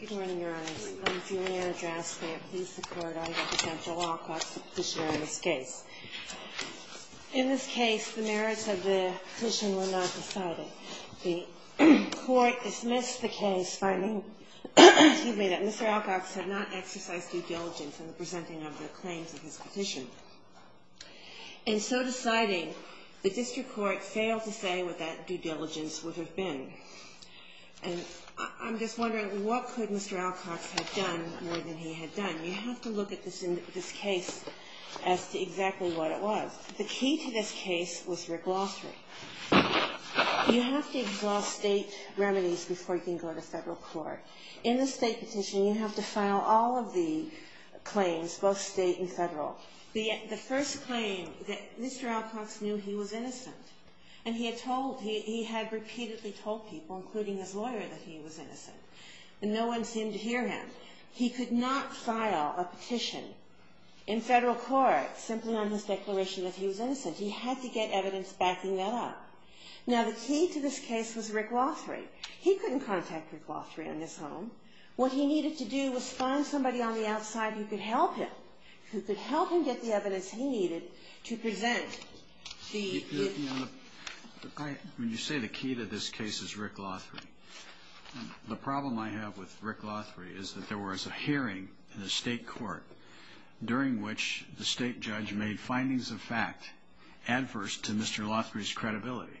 Good morning, Your Honors. Let me see my address there, please, the Court. I am Representative Alcox, the petitioner on this case. In this case, the merits of the petition were not decided. The Court dismissed the case finding that Mr. Alcox had not exercised due diligence in the presenting of the claims of his petition. And so deciding, the District Court failed to say what that due diligence would have been. And I'm just wondering, what could Mr. Alcox have done more than he had done? You have to look at this case as to exactly what it was. The key to this case was your glossary. You have to exhaust state remedies before you can go to federal court. In the state petition, you have to file all of the claims, both state and federal. For example, the first claim, Mr. Alcox knew he was innocent. And he had told, he had repeatedly told people, including his lawyer, that he was innocent. And no one seemed to hear him. He could not file a petition in federal court, simply on his declaration that he was innocent. He had to get evidence backing that up. Now, the key to this case was Rick Lothary. He couldn't contact Rick Lothary on his own. What he needed to do was find somebody on the outside who could help him, who could help him get the evidence he needed to present the... When you say the key to this case is Rick Lothary, the problem I have with Rick Lothary is that there was a hearing in the state court during which the state judge made findings of fact adverse to Mr. Lothary's credibility.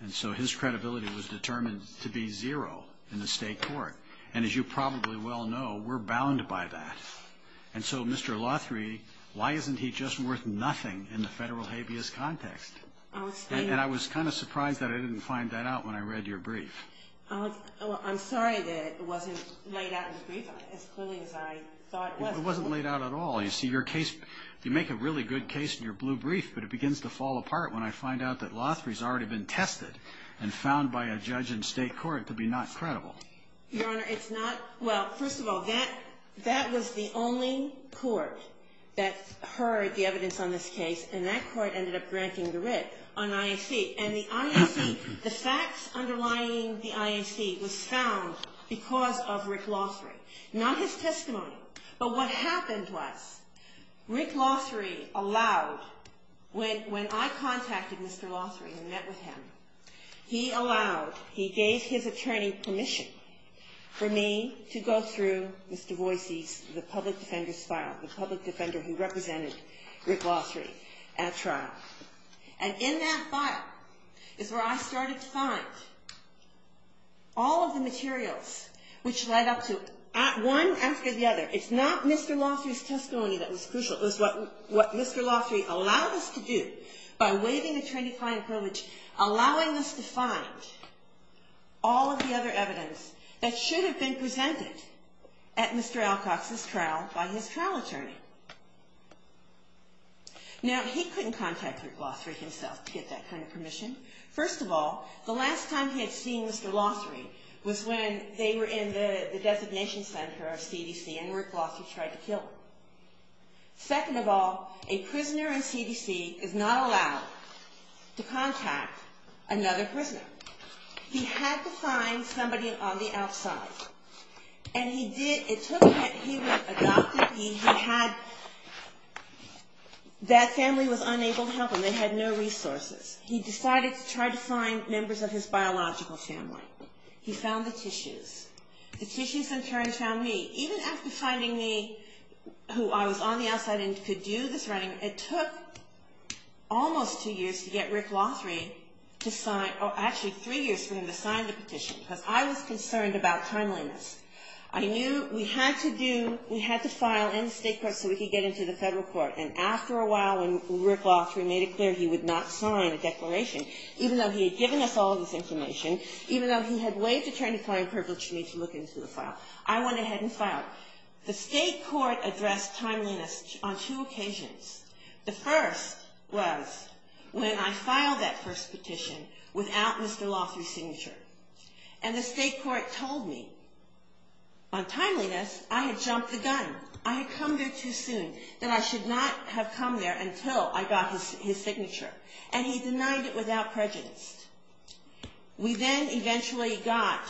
And so his credibility was determined to be zero in the state court. And as you probably well know, we're bound by that. And so, Mr. Lothary, why isn't he just worth nothing in the federal habeas context? And I was kind of surprised that I didn't find that out when I read your brief. I'm sorry that it wasn't laid out in the brief as clearly as I thought it was. It wasn't laid out at all. You see, your case, you make a really good case in your blue brief, but it begins to fall apart when I find out that Lothary's already been tested and found by a judge in state court to be not credible. Your Honor, it's not... Well, first of all, that was the only court that heard the evidence on this case, and that court ended up granting the writ on IAC. And the IAC, the facts underlying the IAC was found because of Rick Lothary, not his testimony. But what happened was Rick Lothary allowed, when I contacted Mr. Lothary and met with him, he allowed, he gave his attorney permission for me to go through Mr. Voicy's, the public defender's file, the public defender who represented Rick Lothary at trial. And in that file is where I started to find all of the materials which led up to, one after the other, it's not Mr. Lothary's testimony that was crucial. It was what Mr. Lothary allowed us to do by waiving attorney-client privilege, allowing us to find all of the other evidence that should have been presented at Mr. Alcox's trial by his trial attorney. Now, he couldn't contact Rick Lothary himself to get that kind of permission. First of all, the last time he had seen Mr. Lothary was when they were in the designation center of CDC and Rick Lothary tried to kill him. Second of all, a prisoner in CDC is not allowed to contact another prisoner. He had to find somebody on the outside, and he did. It took him, he was adopted. He had, that family was unable to help him. They had no resources. He decided to try to find members of his biological family. He found the tissues. The tissues in turn found me. Even after finding me, who I was on the outside and could do this writing, it took almost two years to get Rick Lothary to sign, or actually three years for him to sign the petition, because I was concerned about timeliness. I knew we had to do, we had to file in state court so we could get into the federal court, and after a while when Rick Lothary made it clear he would not sign a declaration, even though he had given us all of this information, even though he had waived attorney client privilege for me to look into the file, I went ahead and filed. The state court addressed timeliness on two occasions. The first was when I filed that first petition without Mr. Lothary's signature, and the state court told me, on timeliness, I had jumped the gun. I had come there too soon, that I should not have come there until I got his signature, and he denied it without prejudice. We then eventually got,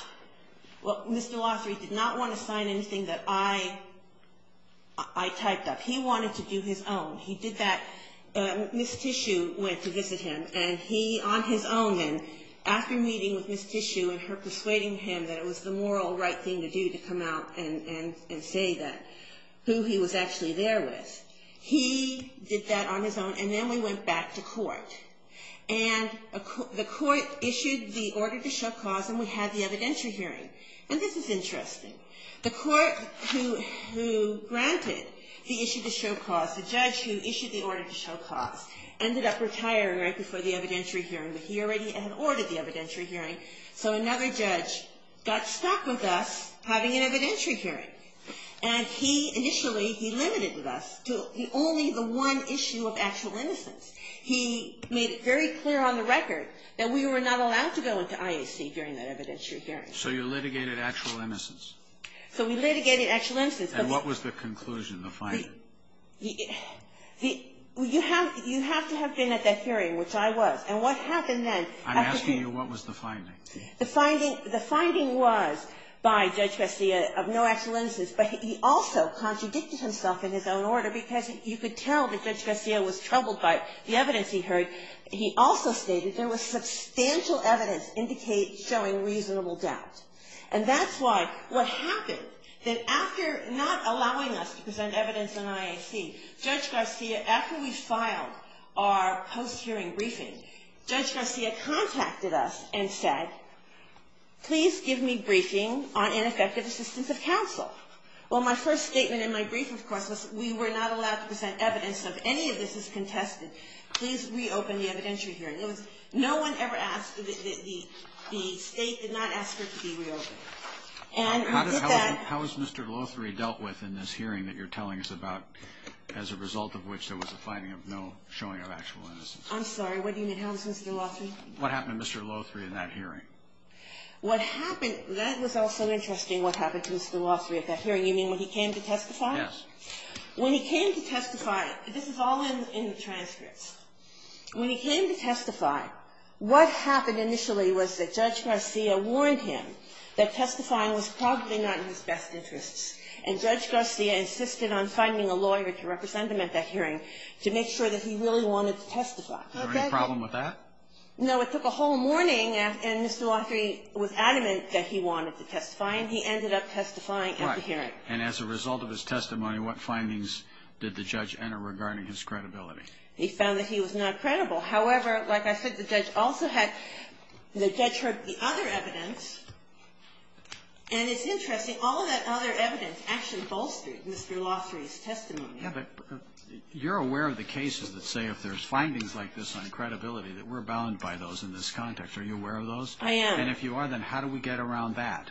well, Mr. Lothary did not want to sign anything that I typed up. He wanted to do his own. He did that. Ms. Tissue went to visit him, and he on his own, and after meeting with Ms. Tissue and her persuading him that it was the moral right thing to do to come out and say that, who he was actually there with, he did that on his own, and then we went back to court, and the court issued the order to show cause, and we had the evidentiary hearing, and this is interesting. The court who granted the issue to show cause, the judge who issued the order to show cause, ended up retiring right before the evidentiary hearing, but he already had ordered the evidentiary hearing, so another judge got stuck with us having an evidentiary hearing, and he initially, he limited with us to only the one issue of actual innocence. He made it very clear on the record that we were not allowed to go into IAC during that evidentiary hearing. So you litigated actual innocence? So we litigated actual innocence. And what was the conclusion, the finding? You have to have been at that hearing, which I was, and what happened then? I'm asking you what was the finding? The finding was by Judge Garcia of no actual innocence, but he also contradicted himself in his own order, because you could tell that Judge Garcia was troubled by the evidence he heard. He also stated there was substantial evidence showing reasonable doubt, and that's why what happened, that after not allowing us to present evidence in IAC, Judge Garcia, after we filed our post-hearing briefing, Judge Garcia contacted us and said, please give me briefing on ineffective assistance of counsel. Well, my first statement in my brief, of course, was we were not allowed to present evidence of any of this as contested. Please reopen the evidentiary hearing. In other words, no one ever asked, the state did not ask for it to be reopened. And we did that. How was Mr. Lothary dealt with in this hearing that you're telling us about, as a result of which there was a finding of no showing of actual innocence? I'm sorry, what do you mean? How was Mr. Lothary? What happened to Mr. Lothary in that hearing? What happened, that was also interesting, what happened to Mr. Lothary at that hearing. You mean when he came to testify? Yes. When he came to testify, this is all in the transcripts. When he came to testify, what happened initially was that Judge Garcia warned him that testifying was probably not in his best interests, and Judge Garcia insisted on finding a lawyer to represent him at that hearing to make sure that he really wanted to testify. Is there any problem with that? No. It took a whole morning, and Mr. Lothary was adamant that he wanted to testify, and he ended up testifying at the hearing. Right. And as a result of his testimony, what findings did the judge enter regarding his credibility? He found that he was not credible. However, like I said, the judge also had the judge heard the other evidence, and it's interesting. All of that other evidence actually bolstered Mr. Lothary's testimony. You're aware of the cases that say if there's findings like this on credibility that we're bound by those in this context. Are you aware of those? I am. And if you are, then how do we get around that?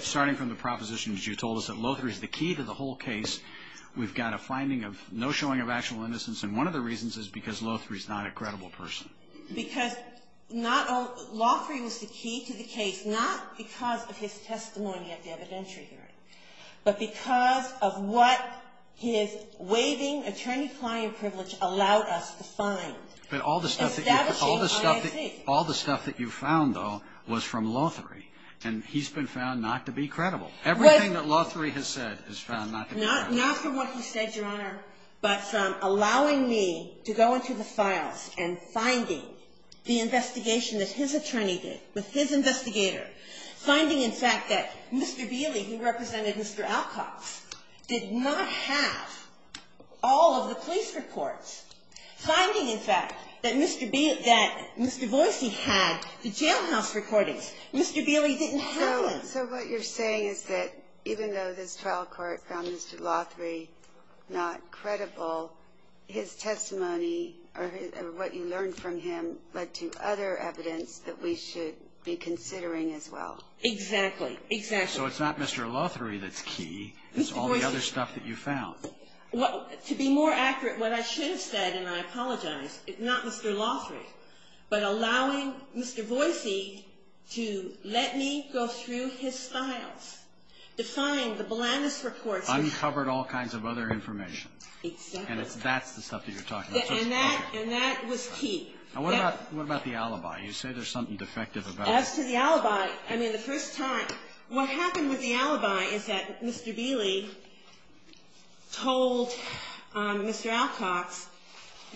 Starting from the propositions you told us that Lothary's the key to the whole case, we've got a finding of no showing of actual innocence, and one of the reasons is because Lothary's not a credible person. Because Lothary was the key to the case not because of his testimony at the hearing, but because his waiving attorney-client privilege allowed us to find and establish his I.I.C. But all the stuff that you found, though, was from Lothary, and he's been found not to be credible. Everything that Lothary has said is found not to be credible. Not from what he said, Your Honor, but from allowing me to go into the files and finding the investigation that his attorney did with his investigator, finding, in fact, that Mr. Beley, who represented Mr. Alcox, did not have all of the police reports, finding, in fact, that Mr. Boise had the jailhouse recordings. Mr. Beley didn't have them. So what you're saying is that even though this trial court found Mr. Lothary not credible, his testimony or what you learned from him led to other evidence that we should be considering as well. Exactly, exactly. So it's not Mr. Lothary that's key. It's all the other stuff that you found. To be more accurate, what I should have said, and I apologize, it's not Mr. Lothary, but allowing Mr. Boise to let me go through his files, to find the blandest reports. Uncovered all kinds of other information. Exactly. And that's the stuff that you're talking about. And that was key. And what about the alibi? You say there's something defective about it. As to the alibi, I mean, the first time, what happened with the alibi is that Mr. Beley told Mr. Alcox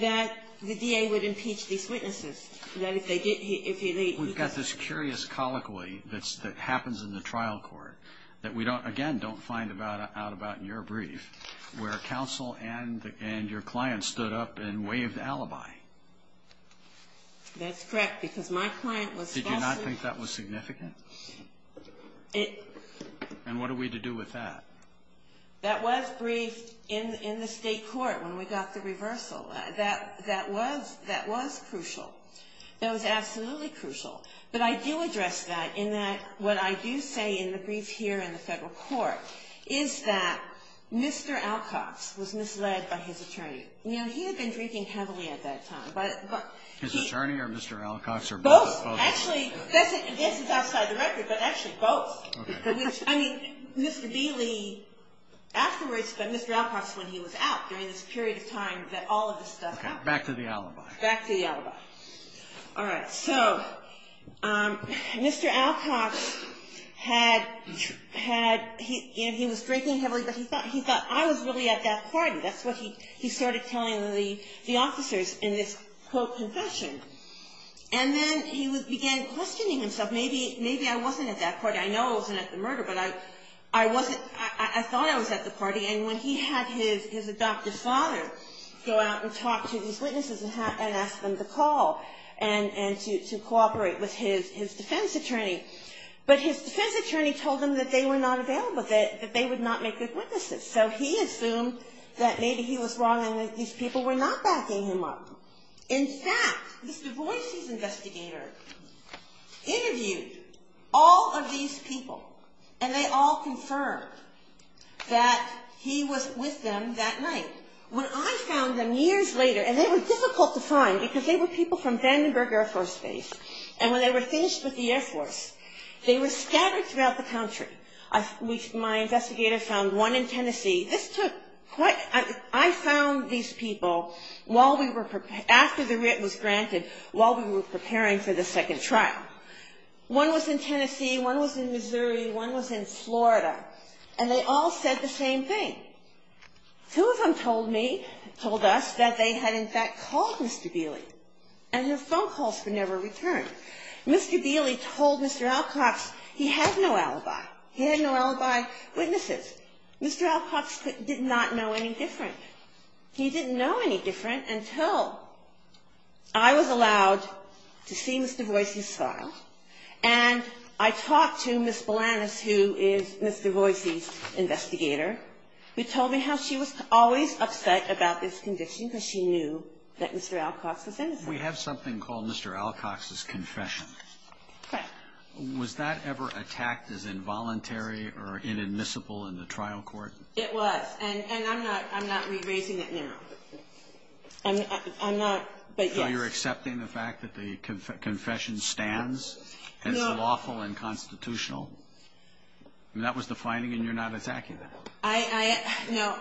that the DA would impeach these witnesses. We've got this curious colloquy that happens in the trial court that we, again, don't find out about in your brief, where counsel and your client stood up and waved alibi. That's correct, because my client was falsely. Did you not think that was significant? And what are we to do with that? That was briefed in the state court when we got the reversal. That was crucial. That was absolutely crucial. But I do address that in that what I do say in the brief here in the federal court is that Mr. Alcox was misled by his attorney. He had been drinking heavily at that time. His attorney or Mr. Alcox or both? Both. Actually, this is outside the record, but actually both. I mean, Mr. Beley afterwards, but Mr. Alcox when he was out during this period of time that all of this stuff happened. Back to the alibi. Back to the alibi. All right, so Mr. Alcox, he was drinking heavily, but he thought I was really at that party. That's what he started telling the officers in this, quote, confession. And then he began questioning himself. Maybe I wasn't at that party. I know I wasn't at the murder, but I thought I was at the party. And when he had his adoptive father go out and talk to these witnesses and ask them to call and to cooperate with his defense attorney, but his defense attorney told him that they were not available, that they would not make good witnesses. So he assumed that maybe he was wrong and that these people were not backing him up. In fact, this Du Bois's investigator interviewed all of these people and they all confirmed that he was with them that night. When I found them years later, and they were difficult to find because they were people from Vandenberg Air Force Base, and when they were finished with the Air Force, they were scattered throughout the country. My investigator found one in Tennessee. This took quite a bit. I found these people after the writ was granted while we were preparing for the second trial. One was in Tennessee, one was in Missouri, one was in Florida, and they all said the same thing. Two of them told me, told us, that they had in fact called Mr. Dealey and his phone calls would never return. Mr. Dealey told Mr. Alcox he had no alibi. He had no alibi witnesses. Mr. Alcox did not know any different. He didn't know any different until I was allowed to see Mr. Du Bois's file and I talked to Ms. Balanus, who is Mr. Du Bois's investigator. She told me how she was always upset about this condition because she knew that Mr. Alcox was innocent. We have something called Mr. Alcox's confession. Okay. Was that ever attacked as involuntary or inadmissible in the trial court? It was, and I'm not raising it now. I'm not, but yes. So you're accepting the fact that the confession stands as lawful and constitutional? That was the finding and you're not attacking that? No.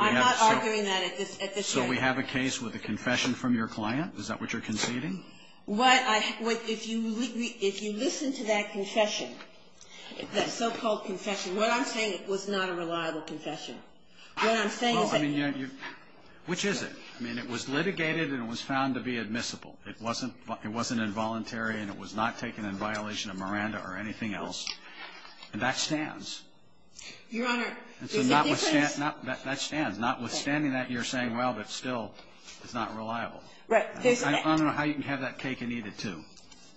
I'm not arguing that at this stage. So we have a case with a confession from your client? Is that what you're conceding? If you listen to that confession, that so-called confession, what I'm saying it was not a reliable confession. What I'm saying is that it was. Which is it? I mean, it was litigated and it was found to be admissible. It wasn't involuntary and it was not taken in violation of Miranda or anything else, and that stands. Your Honor, there's a difference. That stands, notwithstanding that you're saying, well, but still, it's not reliable. Right. I don't know how you can have that cake and eat it, too.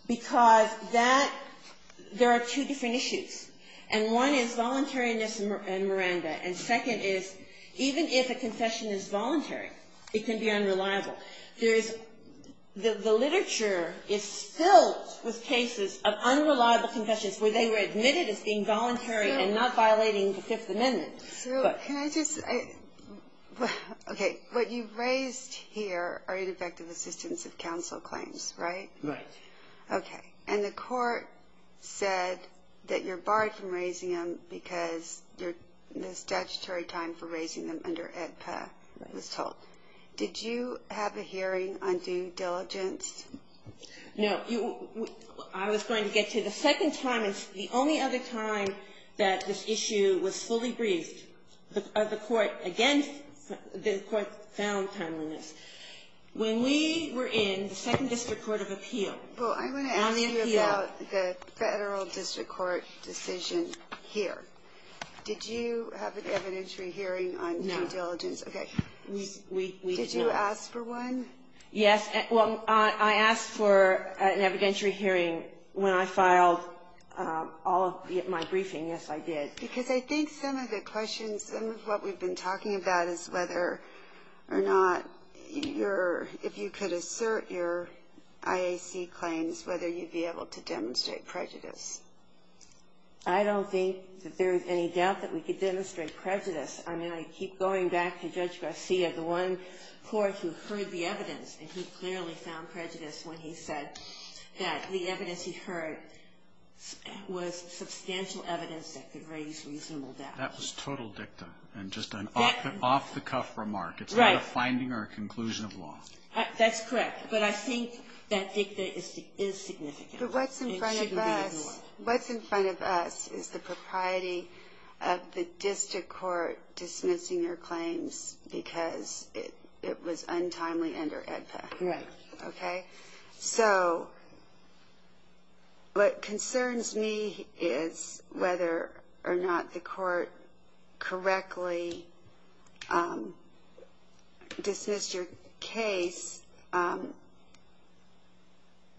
Because that, there are two different issues, and one is voluntariness and Miranda, and second is even if a confession is voluntary, it can be unreliable. The literature is filled with cases of unreliable confessions where they were admitted as being voluntary and not violating the Fifth Amendment. Sue, can I just, okay, what you've raised here are ineffective assistance of counsel claims, right? Right. Okay, and the court said that you're barred from raising them because the statutory time for raising them under AEDPA was told. Did you have a hearing on due diligence? No. I was going to get to the second time. It's the only other time that this issue was fully briefed. The court, again, the court found timeliness. When we were in the Second District Court of Appeal. Well, I'm going to ask you about the Federal District Court decision here. Did you have an evidentiary hearing on due diligence? No. Okay. Did you ask for one? Yes. Well, I asked for an evidentiary hearing when I filed all of my briefing. Yes, I did. Because I think some of the questions, some of what we've been talking about is whether or not you're, if you could assert your IAC claims, whether you'd be able to demonstrate prejudice. I don't think that there's any doubt that we could demonstrate prejudice. I mean, I keep going back to Judge Garcia, the one court who heard the evidence, and he clearly found prejudice when he said that the evidence he heard was substantial evidence that could raise reasonable doubt. That was total dicta and just an off-the-cuff remark. It's not a finding or a conclusion of law. That's correct. But I think that dicta is significant. But what's in front of us is the propriety of the district court dismissing your claims because it was untimely under AEDPA. Right. Okay? So what concerns me is whether or not the court correctly dismissed your case and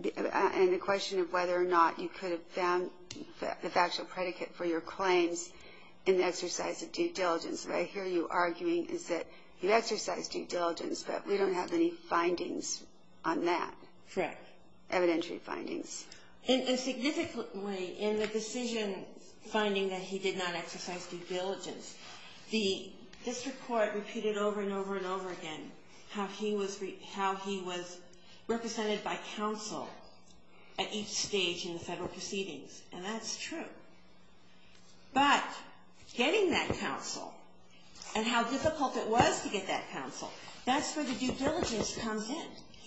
the question of whether or not you could have found the factual predicate for your claims in the exercise of due diligence. What I hear you arguing is that you exercised due diligence, but we don't have any findings on that. Correct. Evidentiary findings. And significantly, in the decision finding that he did not exercise due diligence, the district court repeated over and over and over again how he was represented by counsel at each stage in the federal proceedings, and that's true. But getting that counsel and how difficult it was to get that counsel, that's where the due diligence comes in.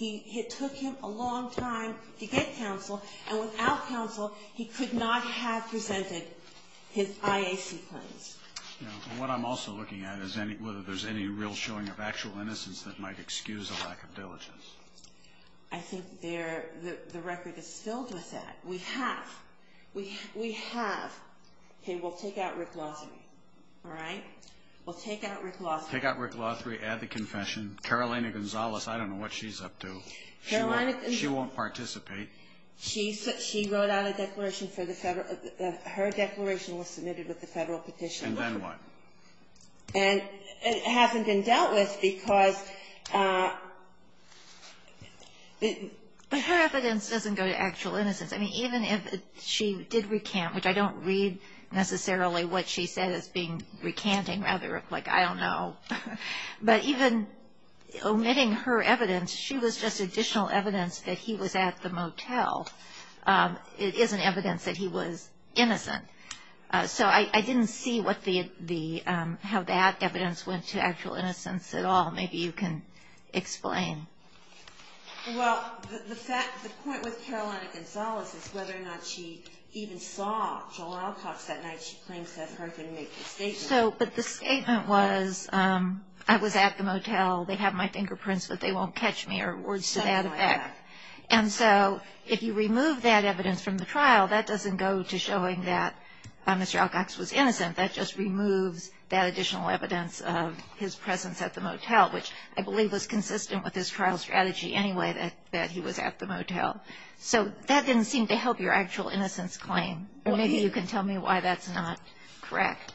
It took him a long time to get counsel, and without counsel, he could not have presented his IAC claims. What I'm also looking at is whether there's any real showing of actual innocence that might excuse a lack of diligence. I think the record is filled with that. We have. We have. Okay. We'll take out Rick Lothry. All right? We'll take out Rick Lothry. Take out Rick Lothry, add the confession. Carolina Gonzalez, I don't know what she's up to. She won't participate. She wrote out a declaration for the federal – her declaration was submitted with the federal petition. And then what? And it hasn't been dealt with because the – even if she did recant, which I don't read necessarily what she said as being recanting, rather like I don't know, but even omitting her evidence, she was just additional evidence that he was at the motel. It isn't evidence that he was innocent. So I didn't see what the – how that evidence went to actual innocence at all. Maybe you can explain. Well, the fact – the point with Carolina Gonzalez is whether or not she even saw Joel Alcox that night. She claims that her can make the statement. So – but the statement was, I was at the motel, they have my fingerprints but they won't catch me, or words to that effect. And so if you remove that evidence from the trial, that doesn't go to showing that Mr. Alcox was innocent. That just removes that additional evidence of his presence at the motel, which I believe was consistent with his trial strategy anyway that he was at the motel. So that didn't seem to help your actual innocence claim. Or maybe you can tell me why that's not correct.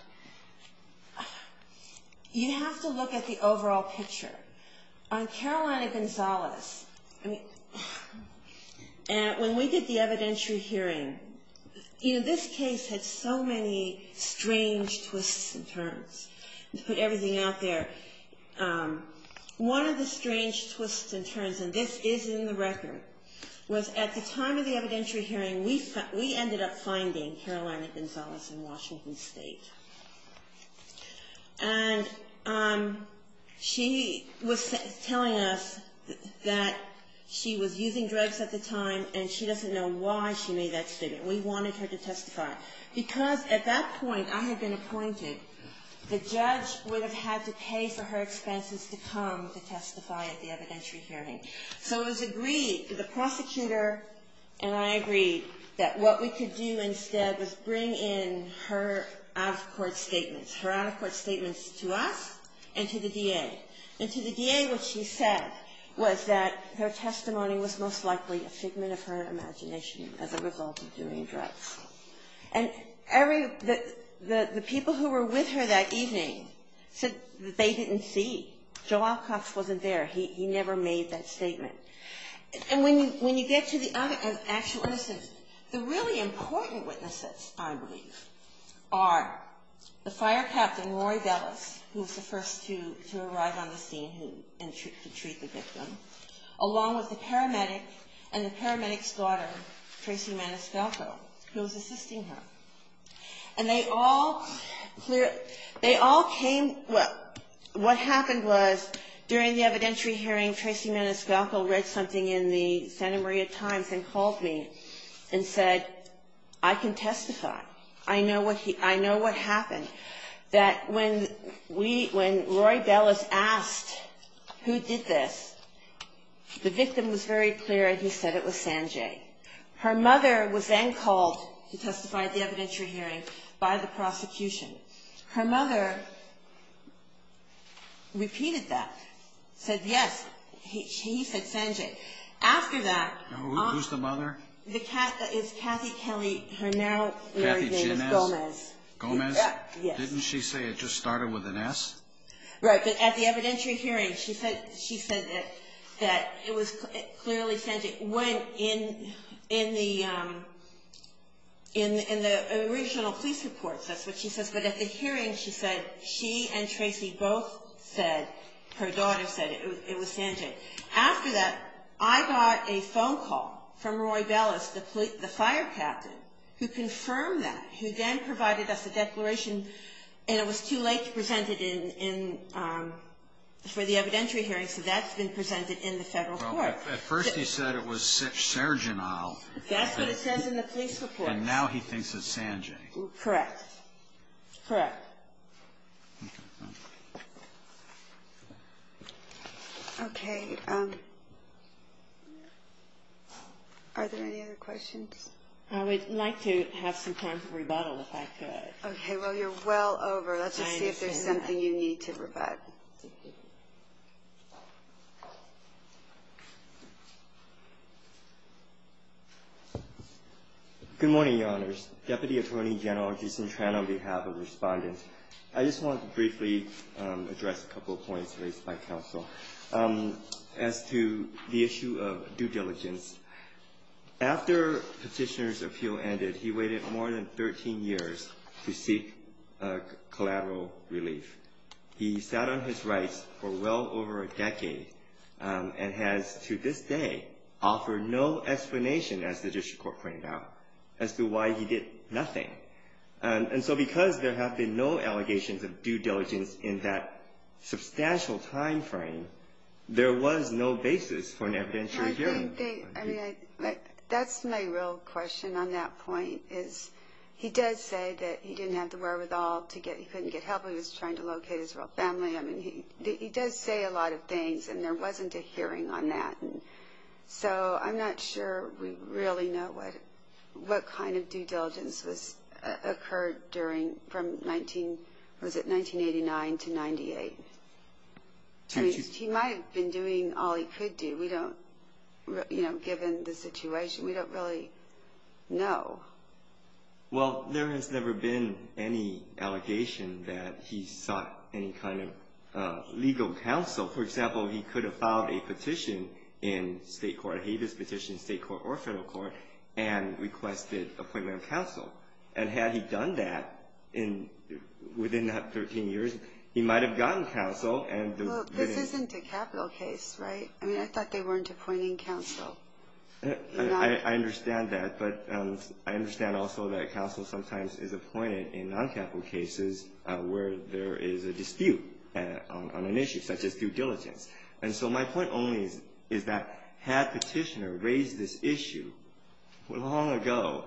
You have to look at the overall picture. On Carolina Gonzalez, when we did the evidentiary hearing, this case had so many strange twists and turns. To put everything out there, one of the strange twists and turns, and this is in the record, was at the time of the evidentiary hearing, we ended up finding Carolina Gonzalez in Washington State. And she was telling us that she was using drugs at the time and she doesn't know why she made that statement. We wanted her to testify. Because at that point, I had been appointed, the judge would have had to pay for her expenses to come to testify at the evidentiary hearing. So it was agreed, the prosecutor and I agreed, that what we could do instead was bring in her out-of-court statements, her out-of-court statements to us and to the DA. And to the DA, what she said was that her testimony was most likely a figment of her imagination as a result of doing drugs. And the people who were with her that evening said that they didn't see. Joe Alcox wasn't there. He never made that statement. And when you get to the actual witnesses, the really important witnesses, I believe, are the fire captain, Roy Bellis, who was the first to arrive on the scene to treat the victim, along with the paramedic and the paramedic's daughter, Tracy Maniscalco, who was assisting her. And they all came. What happened was, during the evidentiary hearing, Tracy Maniscalco read something in the Santa Maria Times and called me and said, I can testify. I know what happened. That when Roy Bellis asked who did this, the victim was very clear, he said it was Sanjay. Her mother was then called to testify at the evidentiary hearing by the prosecution. Her mother repeated that, said yes, he said Sanjay. After that... Who's the mother? It's Kathy Kelly, her now married name is Gomez. Gomez? Yes. Didn't she say it just started with an S? Right, but at the evidentiary hearing, she said that it was clearly Sanjay. It went in the original police report, that's what she says, but at the hearing, she and Tracy both said, her daughter said it was Sanjay. After that, I got a phone call from Roy Bellis, the fire captain, who confirmed that, who then provided us a declaration, and it was too late to present it for the evidentiary hearing, so that's been presented in the federal court. At first he said it was Sargenal. That's what it says in the police report. And now he thinks it's Sanjay. Correct. Correct. Okay. Are there any other questions? I would like to have some time for rebuttal, if I could. Okay. Well, you're well over. Let's just see if there's something you need to rebut. Thank you. Good morning, Your Honors. Deputy Attorney General Jason Tran, on behalf of Respondents. I just want to briefly address a couple of points raised by counsel as to the issue of due diligence. After Petitioner's appeal ended, he waited more than 13 years to seek collateral relief. He sat on his rights for well over a decade and has, to this day, offered no explanation, as the district court pointed out, as to why he did nothing. And so because there have been no allegations of due diligence in that substantial timeframe, there was no basis for an evidentiary hearing. That's my real question on that point, is he does say that he didn't have the wherewithal to get help. He was trying to locate his real family. I mean, he does say a lot of things, and there wasn't a hearing on that. And so I'm not sure we really know what kind of due diligence occurred from 1989 to 1998. He might have been doing all he could do. We don't, you know, given the situation, we don't really know. Well, there has never been any allegation that he sought any kind of legal counsel. For example, he could have filed a petition in state court, a habeas petition in state court or federal court, and requested appointment of counsel. And had he done that within that 13 years, he might have gotten counsel. This isn't a capital case, right? I mean, I thought they weren't appointing counsel. I understand that, but I understand also that counsel sometimes is appointed in non-capital cases where there is a dispute on an issue such as due diligence. And so my point only is that had Petitioner raised this issue long ago,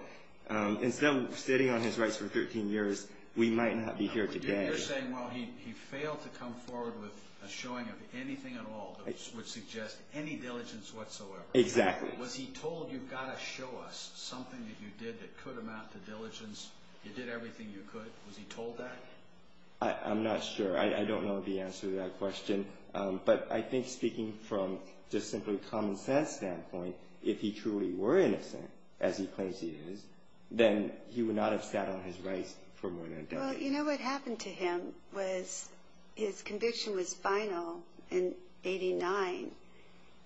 instead of sitting on his rights for 13 years, we might not be here today. You're saying, well, he failed to come forward with a showing of anything at all that would suggest any diligence whatsoever. Exactly. Was he told you've got to show us something that you did that could amount to diligence? You did everything you could. Was he told that? I'm not sure. I don't know the answer to that question. But I think speaking from just simply common sense standpoint, if he truly were innocent, as he claims he is, then he would not have sat on his rights for more than a decade. Well, you know what happened to him was his conviction was final in 89,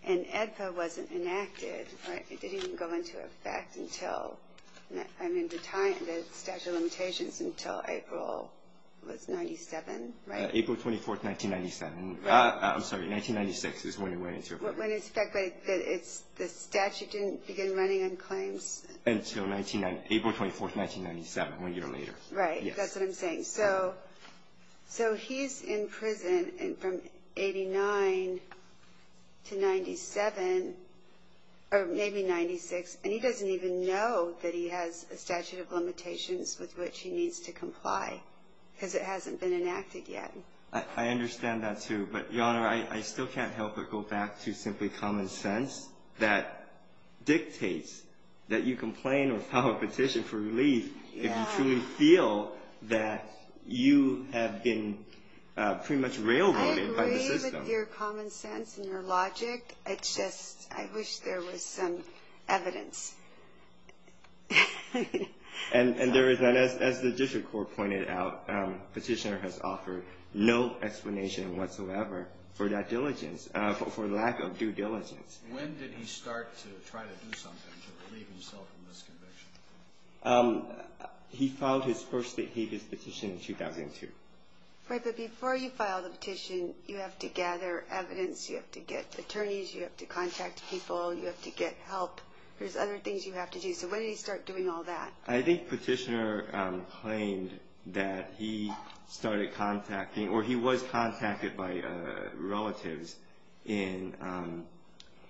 and AEDPA wasn't enacted. It didn't even go into effect until the statute of limitations until April was 97, right? April 24, 1997. I'm sorry, 1996 is when it went into effect. When it's in effect, but the statute didn't begin running on claims? Until April 24, 1997, one year later. Right, that's what I'm saying. So he's in prison from 89 to 97, or maybe 96, and he doesn't even know that he has a statute of limitations with which he needs to comply, because it hasn't been enacted yet. I understand that, too. But, Your Honor, I still can't help but go back to simply common sense that dictates that you complain or file a petition for relief if you truly feel that you have been pretty much railroaded by the system. I agree with your common sense and your logic. It's just I wish there was some evidence. And as the district court pointed out, petitioner has offered no explanation whatsoever for that diligence, for lack of due diligence. When did he start to try to do something to relieve himself from this conviction? He filed his first behaviorist petition in 2002. Right, but before you file the petition, you have to gather evidence. You have to get attorneys. You have to contact people. You have to get help. There's other things you have to do. So when did he start doing all that? I think petitioner claimed that he started contacting, or he was contacted by relatives in,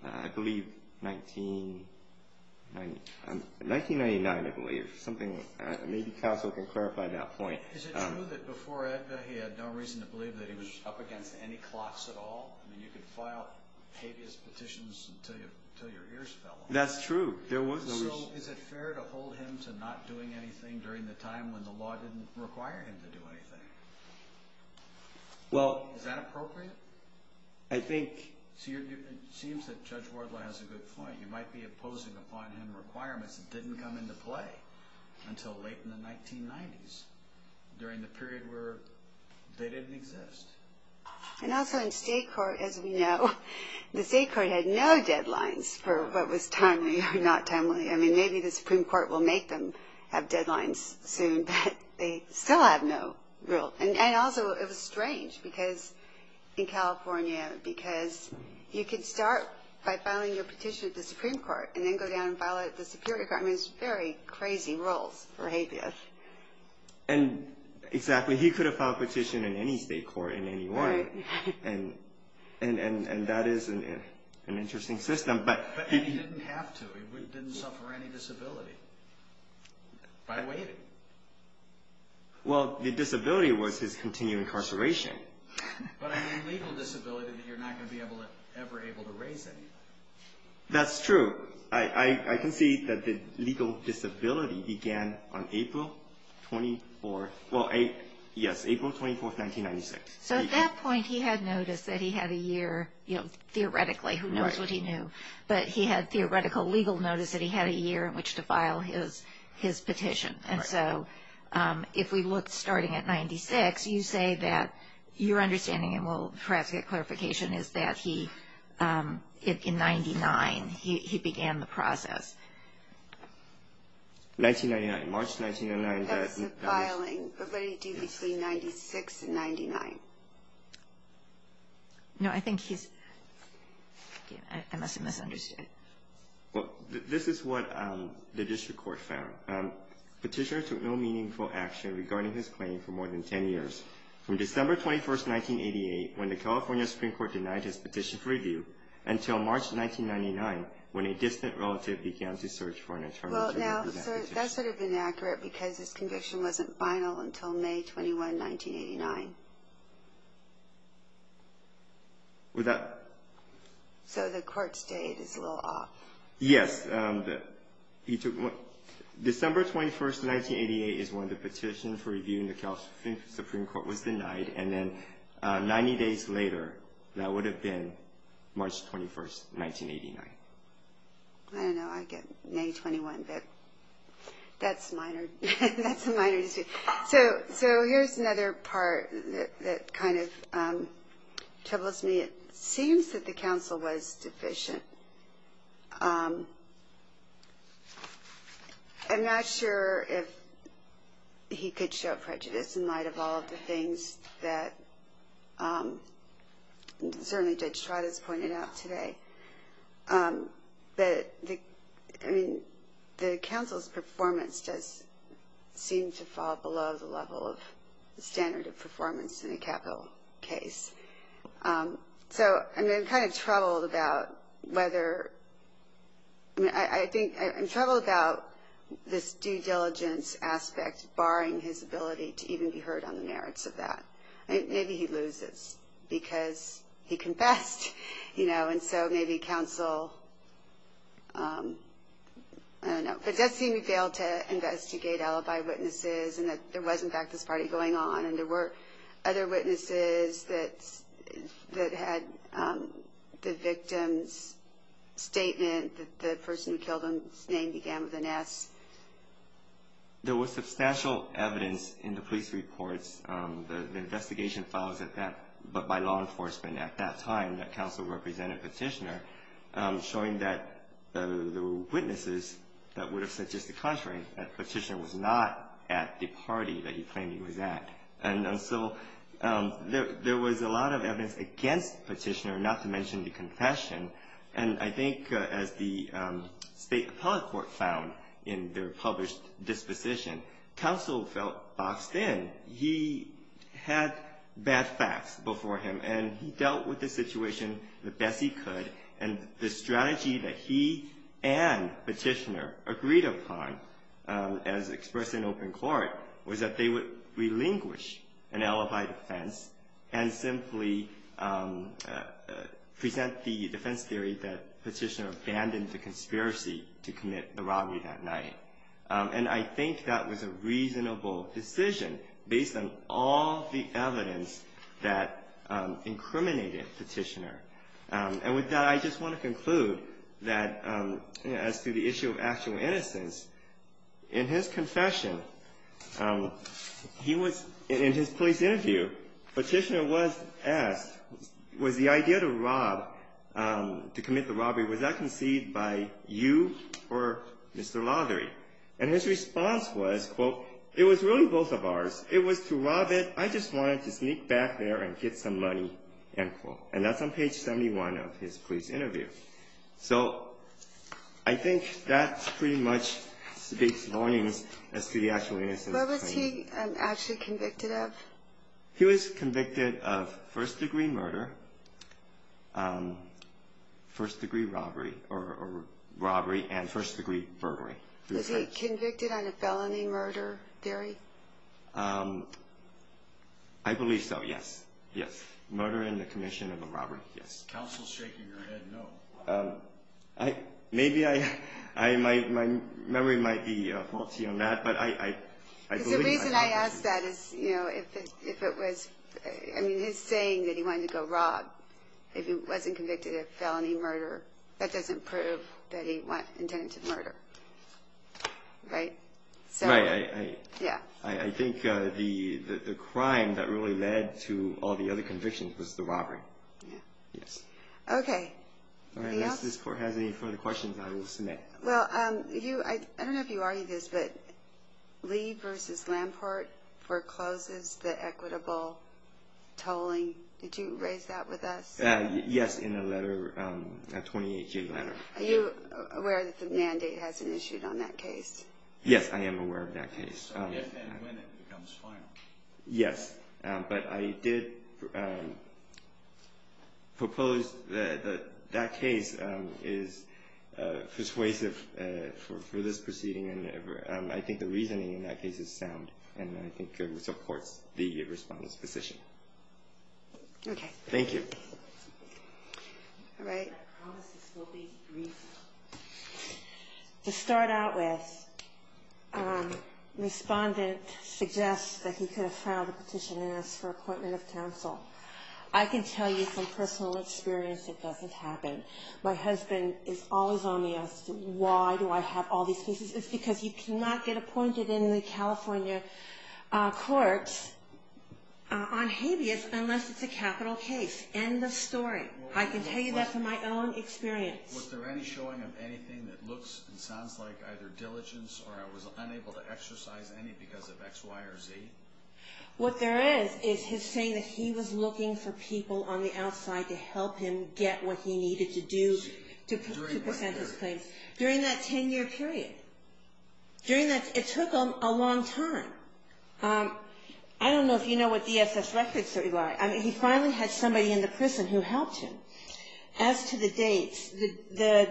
I believe, 1999, I believe. Something, maybe counsel can clarify that point. Is it true that before Edgar, he had no reason to believe that he was up against any clocks at all? I mean, you could file behaviorist petitions until your ears fell off. That's true. So is it fair to hold him to not doing anything during the time when the law didn't require him to do anything? Well. Is that appropriate? I think. It seems that Judge Wardlaw has a good point. You might be opposing upon him requirements that didn't come into play until late in the 1990s, during the period where they didn't exist. And also in state court, as we know, the state court had no deadlines for what was timely or not timely. I mean, maybe the Supreme Court will make them have deadlines soon, but they still have no rule. And also, it was strange, because in California, because you could start by filing your petition at the Supreme Court, and then go down and file it at the Superior Court. I mean, it's very crazy rules for behaviorists. Exactly. He could have filed a petition in any state court, in any one. And that is an interesting system. But he didn't have to. He didn't suffer any disability by waiting. Well, the disability was his continued incarceration. But I mean legal disability that you're not going to be ever able to raise anymore. That's true. I can see that the legal disability began on April 24th. Well, yes, April 24th, 1996. So at that point, he had noticed that he had a year, you know, theoretically, who knows what he knew. But he had theoretical legal notice that he had a year in which to file his petition. And so if we look starting at 96, you say that your understanding, and we'll perhaps get clarification, is that he, in 99, he began the process. 1999, March 1999. That's the filing. But what did he do between 96 and 99? No, I think he's – I must have misunderstood. Well, this is what the district court found. Petitioner took no meaningful action regarding his claim for more than 10 years. From December 21st, 1988, when the California Supreme Court denied his petition for review, until March 1999, when a distant relative began to search for an attorney to represent the petitioner. Well, now, that's sort of inaccurate because his conviction wasn't final until May 21, 1989. Would that – So the court's date is a little off. Yes. December 21st, 1988 is when the petition for review in the California Supreme Court was denied. And then 90 days later, that would have been March 21st, 1989. I don't know. I get May 21, but that's minor. That's a minor dispute. So here's another part that kind of troubles me. It seems that the counsel was deficient. I'm not sure if he could show prejudice in light of all of the things that certainly Judge Trot has pointed out today. But the counsel's performance does seem to fall below the level of standard of performance in a capital case. So I'm kind of troubled about whether – I'm troubled about this due diligence aspect barring his ability to even be heard on the merits of that. Maybe he loses because he confessed. And so maybe counsel – I don't know. But it does seem he failed to investigate alibi witnesses and that there was, in fact, this party going on. And there were other witnesses that had the victim's statement that the person who killed him's name began with an S. There was substantial evidence in the police reports, the investigation files at that – but by law enforcement at that time, that counsel represented Petitioner, showing that there were witnesses that would have said just the contrary, that Petitioner was not at the party that he claimed he was at. And so there was a lot of evidence against Petitioner, not to mention the confession. And I think as the State Appellate Court found in their published disposition, counsel felt boxed in. He had bad facts before him, and he dealt with the situation the best he could. And the strategy that he and Petitioner agreed upon as expressed in open court was that they would relinquish an alibi defense and simply present the defense theory that Petitioner abandoned the conspiracy to commit the robbery that night. And I think that was a reasonable decision based on all the evidence that incriminated Petitioner. And with that, I just want to conclude that as to the issue of actual innocence, in his confession, he was – in his police interview, Petitioner was asked, was the idea to rob, to commit the robbery, was that conceived by you or Mr. Lothery? And his response was, quote, it was really both of ours. It was to rob it. I just wanted to sneak back there and get some money, end quote. And that's on page 71 of his police interview. So I think that pretty much speaks warnings as to the actual innocence. What was he actually convicted of? He was convicted of first-degree murder, first-degree robbery, or robbery and first-degree burglary. Was he convicted on a felony murder theory? I believe so, yes. Yes. Murder in the commission of a robbery, yes. Counsel shaking her head no. Maybe I – my memory might be faulty on that, but I believe that. Because the reason I ask that is, you know, if it was – I mean, his saying that he wanted to go rob, if he wasn't convicted of felony murder, that doesn't prove that he intended to murder, right? Right. Yeah. I think the crime that really led to all the other convictions was the robbery, yes. Okay. All right. Unless this court has any further questions, I will submit. Well, you – I don't know if you argued this, but Lee v. Lamport forecloses the equitable tolling. Did you raise that with us? Yes, in a letter, a 2018 letter. Are you aware that the mandate hasn't issued on that case? Yes, I am aware of that case. If and when it becomes final. Yes, but I did propose that that case is persuasive for this proceeding, and I think the reasoning in that case is sound and I think supports the Respondent's position. Okay. Thank you. All right. I promise this will be brief. To start out with, Respondent suggests that he could have filed a petition and asked for appointment of counsel. I can tell you from personal experience it doesn't happen. My husband is always on the outside. Why do I have all these cases? It's because you cannot get appointed in the California courts on habeas unless it's a capital case. End of story. I can tell you that from my own experience. Was there any showing of anything that looks and sounds like either diligence or I was unable to exercise any because of X, Y, or Z? What there is is his saying that he was looking for people on the outside to help him get what he needed to do to present his claims. During what period? During that 10-year period. It took him a long time. I don't know if you know what DSS records say, Eli. I mean, he finally had somebody in the prison who helped him. As to the dates, the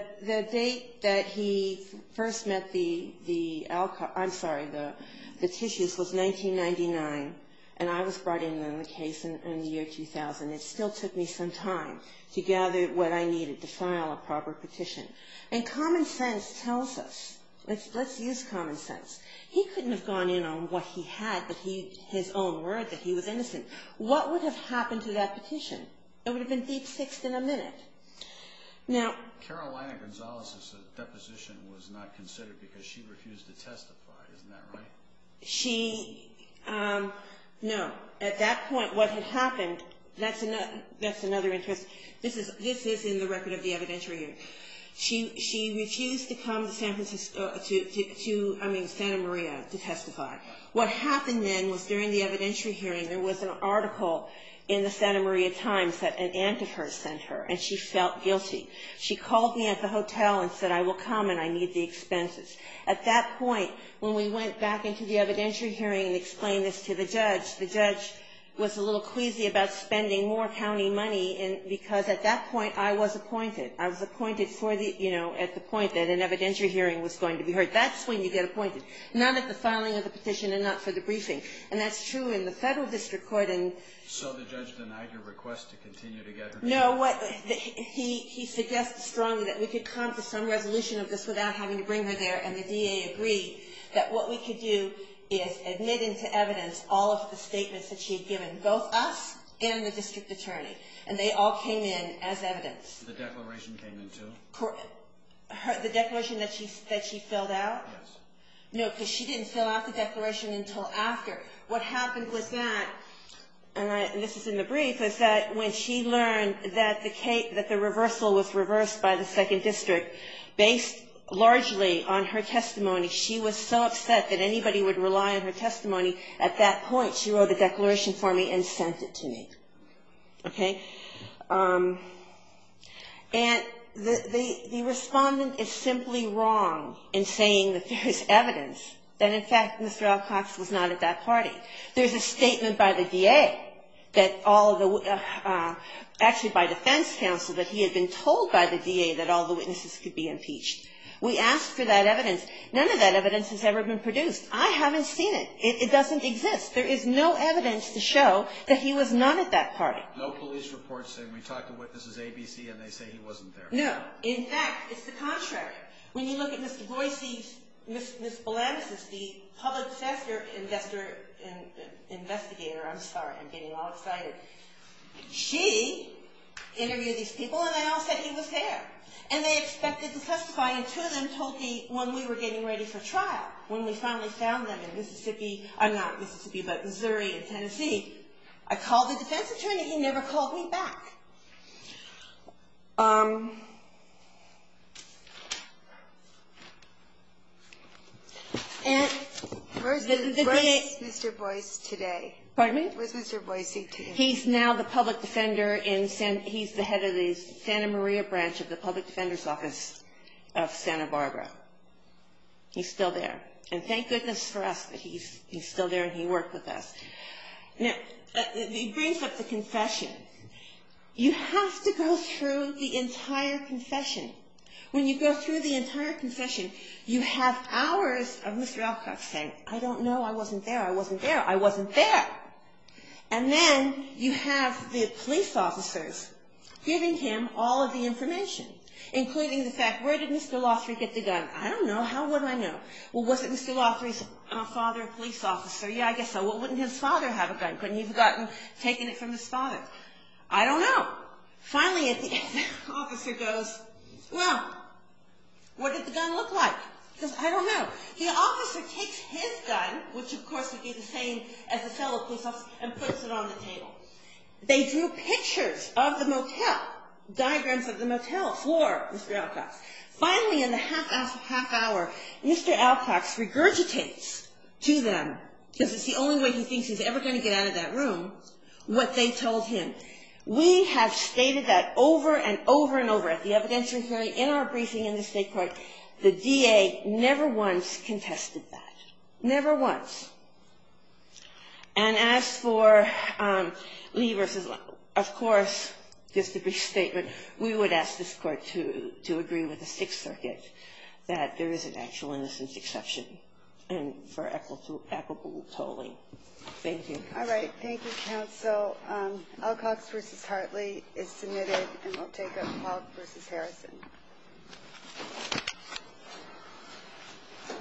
date that he first met the alcohol, I'm sorry, the tissues was 1999, and I was brought in on the case in the year 2000. It still took me some time to gather what I needed to file a proper petition. And common sense tells us, let's use common sense. He couldn't have gone in on what he had, his own word that he was innocent. What would have happened to that petition? It would have been deep-fixed in a minute. Carolina Gonzalez's deposition was not considered because she refused to testify. Isn't that right? No. At that point, what had happened, that's another interest. This is in the record of the evidentiary hearing. She refused to come to Santa Maria to testify. What happened then was during the evidentiary hearing, there was an article in the Santa Maria Times that an aunt of hers sent her, and she felt guilty. She called me at the hotel and said, I will come and I need the expenses. At that point, when we went back into the evidentiary hearing and explained this to the judge, the judge was a little queasy about spending more county money because at that point I was appointed. I was appointed for the, you know, at the point that an evidentiary hearing was going to be heard. That's when you get appointed, not at the filing of the petition and not for the briefing. And that's true in the federal district court. So the judge denied your request to continue to get her to testify? No. He suggested strongly that we could come to some resolution of this without having to bring her there, and the DA agreed that what we could do is admit into evidence all of the statements that she had given, both us and the district attorney. And they all came in as evidence. The declaration came in too? The declaration that she filled out? Yes. No, because she didn't fill out the declaration until after. What happened was that, and this is in the brief, is that when she learned that the reversal was reversed by the second district, based largely on her testimony, she was so upset that anybody would rely on her testimony, at that point she wrote the declaration for me and sent it to me. Okay? And the respondent is simply wrong in saying that there is evidence that, in fact, Mr. Alcox was not at that party. There's a statement by the DA that all of the, actually by defense counsel, that he had been told by the DA that all the witnesses could be impeached. We asked for that evidence. None of that evidence has ever been produced. I haven't seen it. It doesn't exist. There is no evidence to show that he was not at that party. No police reports saying we talked to witnesses ABC and they say he wasn't there. No. In fact, it's the contrary. When you look at Ms. Boise, Ms. Balansis, the public disaster investigator, I'm sorry, I'm getting all excited, she interviewed these people and they all said he was there. And they expected to testify, and two of them told me when we were getting ready for trial, when we finally found them in Mississippi, not Mississippi, but Missouri and Tennessee. I called the defense attorney. He never called me back. And the DA ---- Where is Mr. Boise today? Pardon me? Where is Mr. Boise today? He's now the public defender in San ---- he's the head of the Santa Maria branch of the public defender's office of Santa Barbara. He's still there. And thank goodness for us that he's still there and he worked with us. Now, he brings up the confession. You have to go through the entire confession. When you go through the entire confession, you have hours of Mr. Alcock saying, I don't know, I wasn't there, I wasn't there, I wasn't there. And then you have the police officers giving him all of the information, including the fact, where did Mr. Lothery get the gun? I don't know. How would I know? Well, was it Mr. Lothery's father a police officer? Yeah, I guess so. Well, wouldn't his father have a gun? Couldn't he have gotten, taken it from his father? I don't know. Finally, the officer goes, well, what did the gun look like? He goes, I don't know. The officer takes his gun, which of course would be the same as the fellow police officer, and puts it on the table. They drew pictures of the motel, diagrams of the motel for Mr. Alcock. Finally, in the half hour, Mr. Alcock regurgitates to them, because it's the only way he thinks he's ever going to get out of that room, what they told him. We have stated that over and over and over at the evidentiary hearing, in our briefing in the state court. The DA never once contested that. Never once. And as for Lee versus Lowe, of course, just a brief statement, we would ask this court to agree with the Sixth Circuit that there is an actual innocence exception and for equitable tolling. Thank you. All right. Thank you, counsel. Alcocks versus Hartley is submitted, and we'll take Alcock versus Harrison.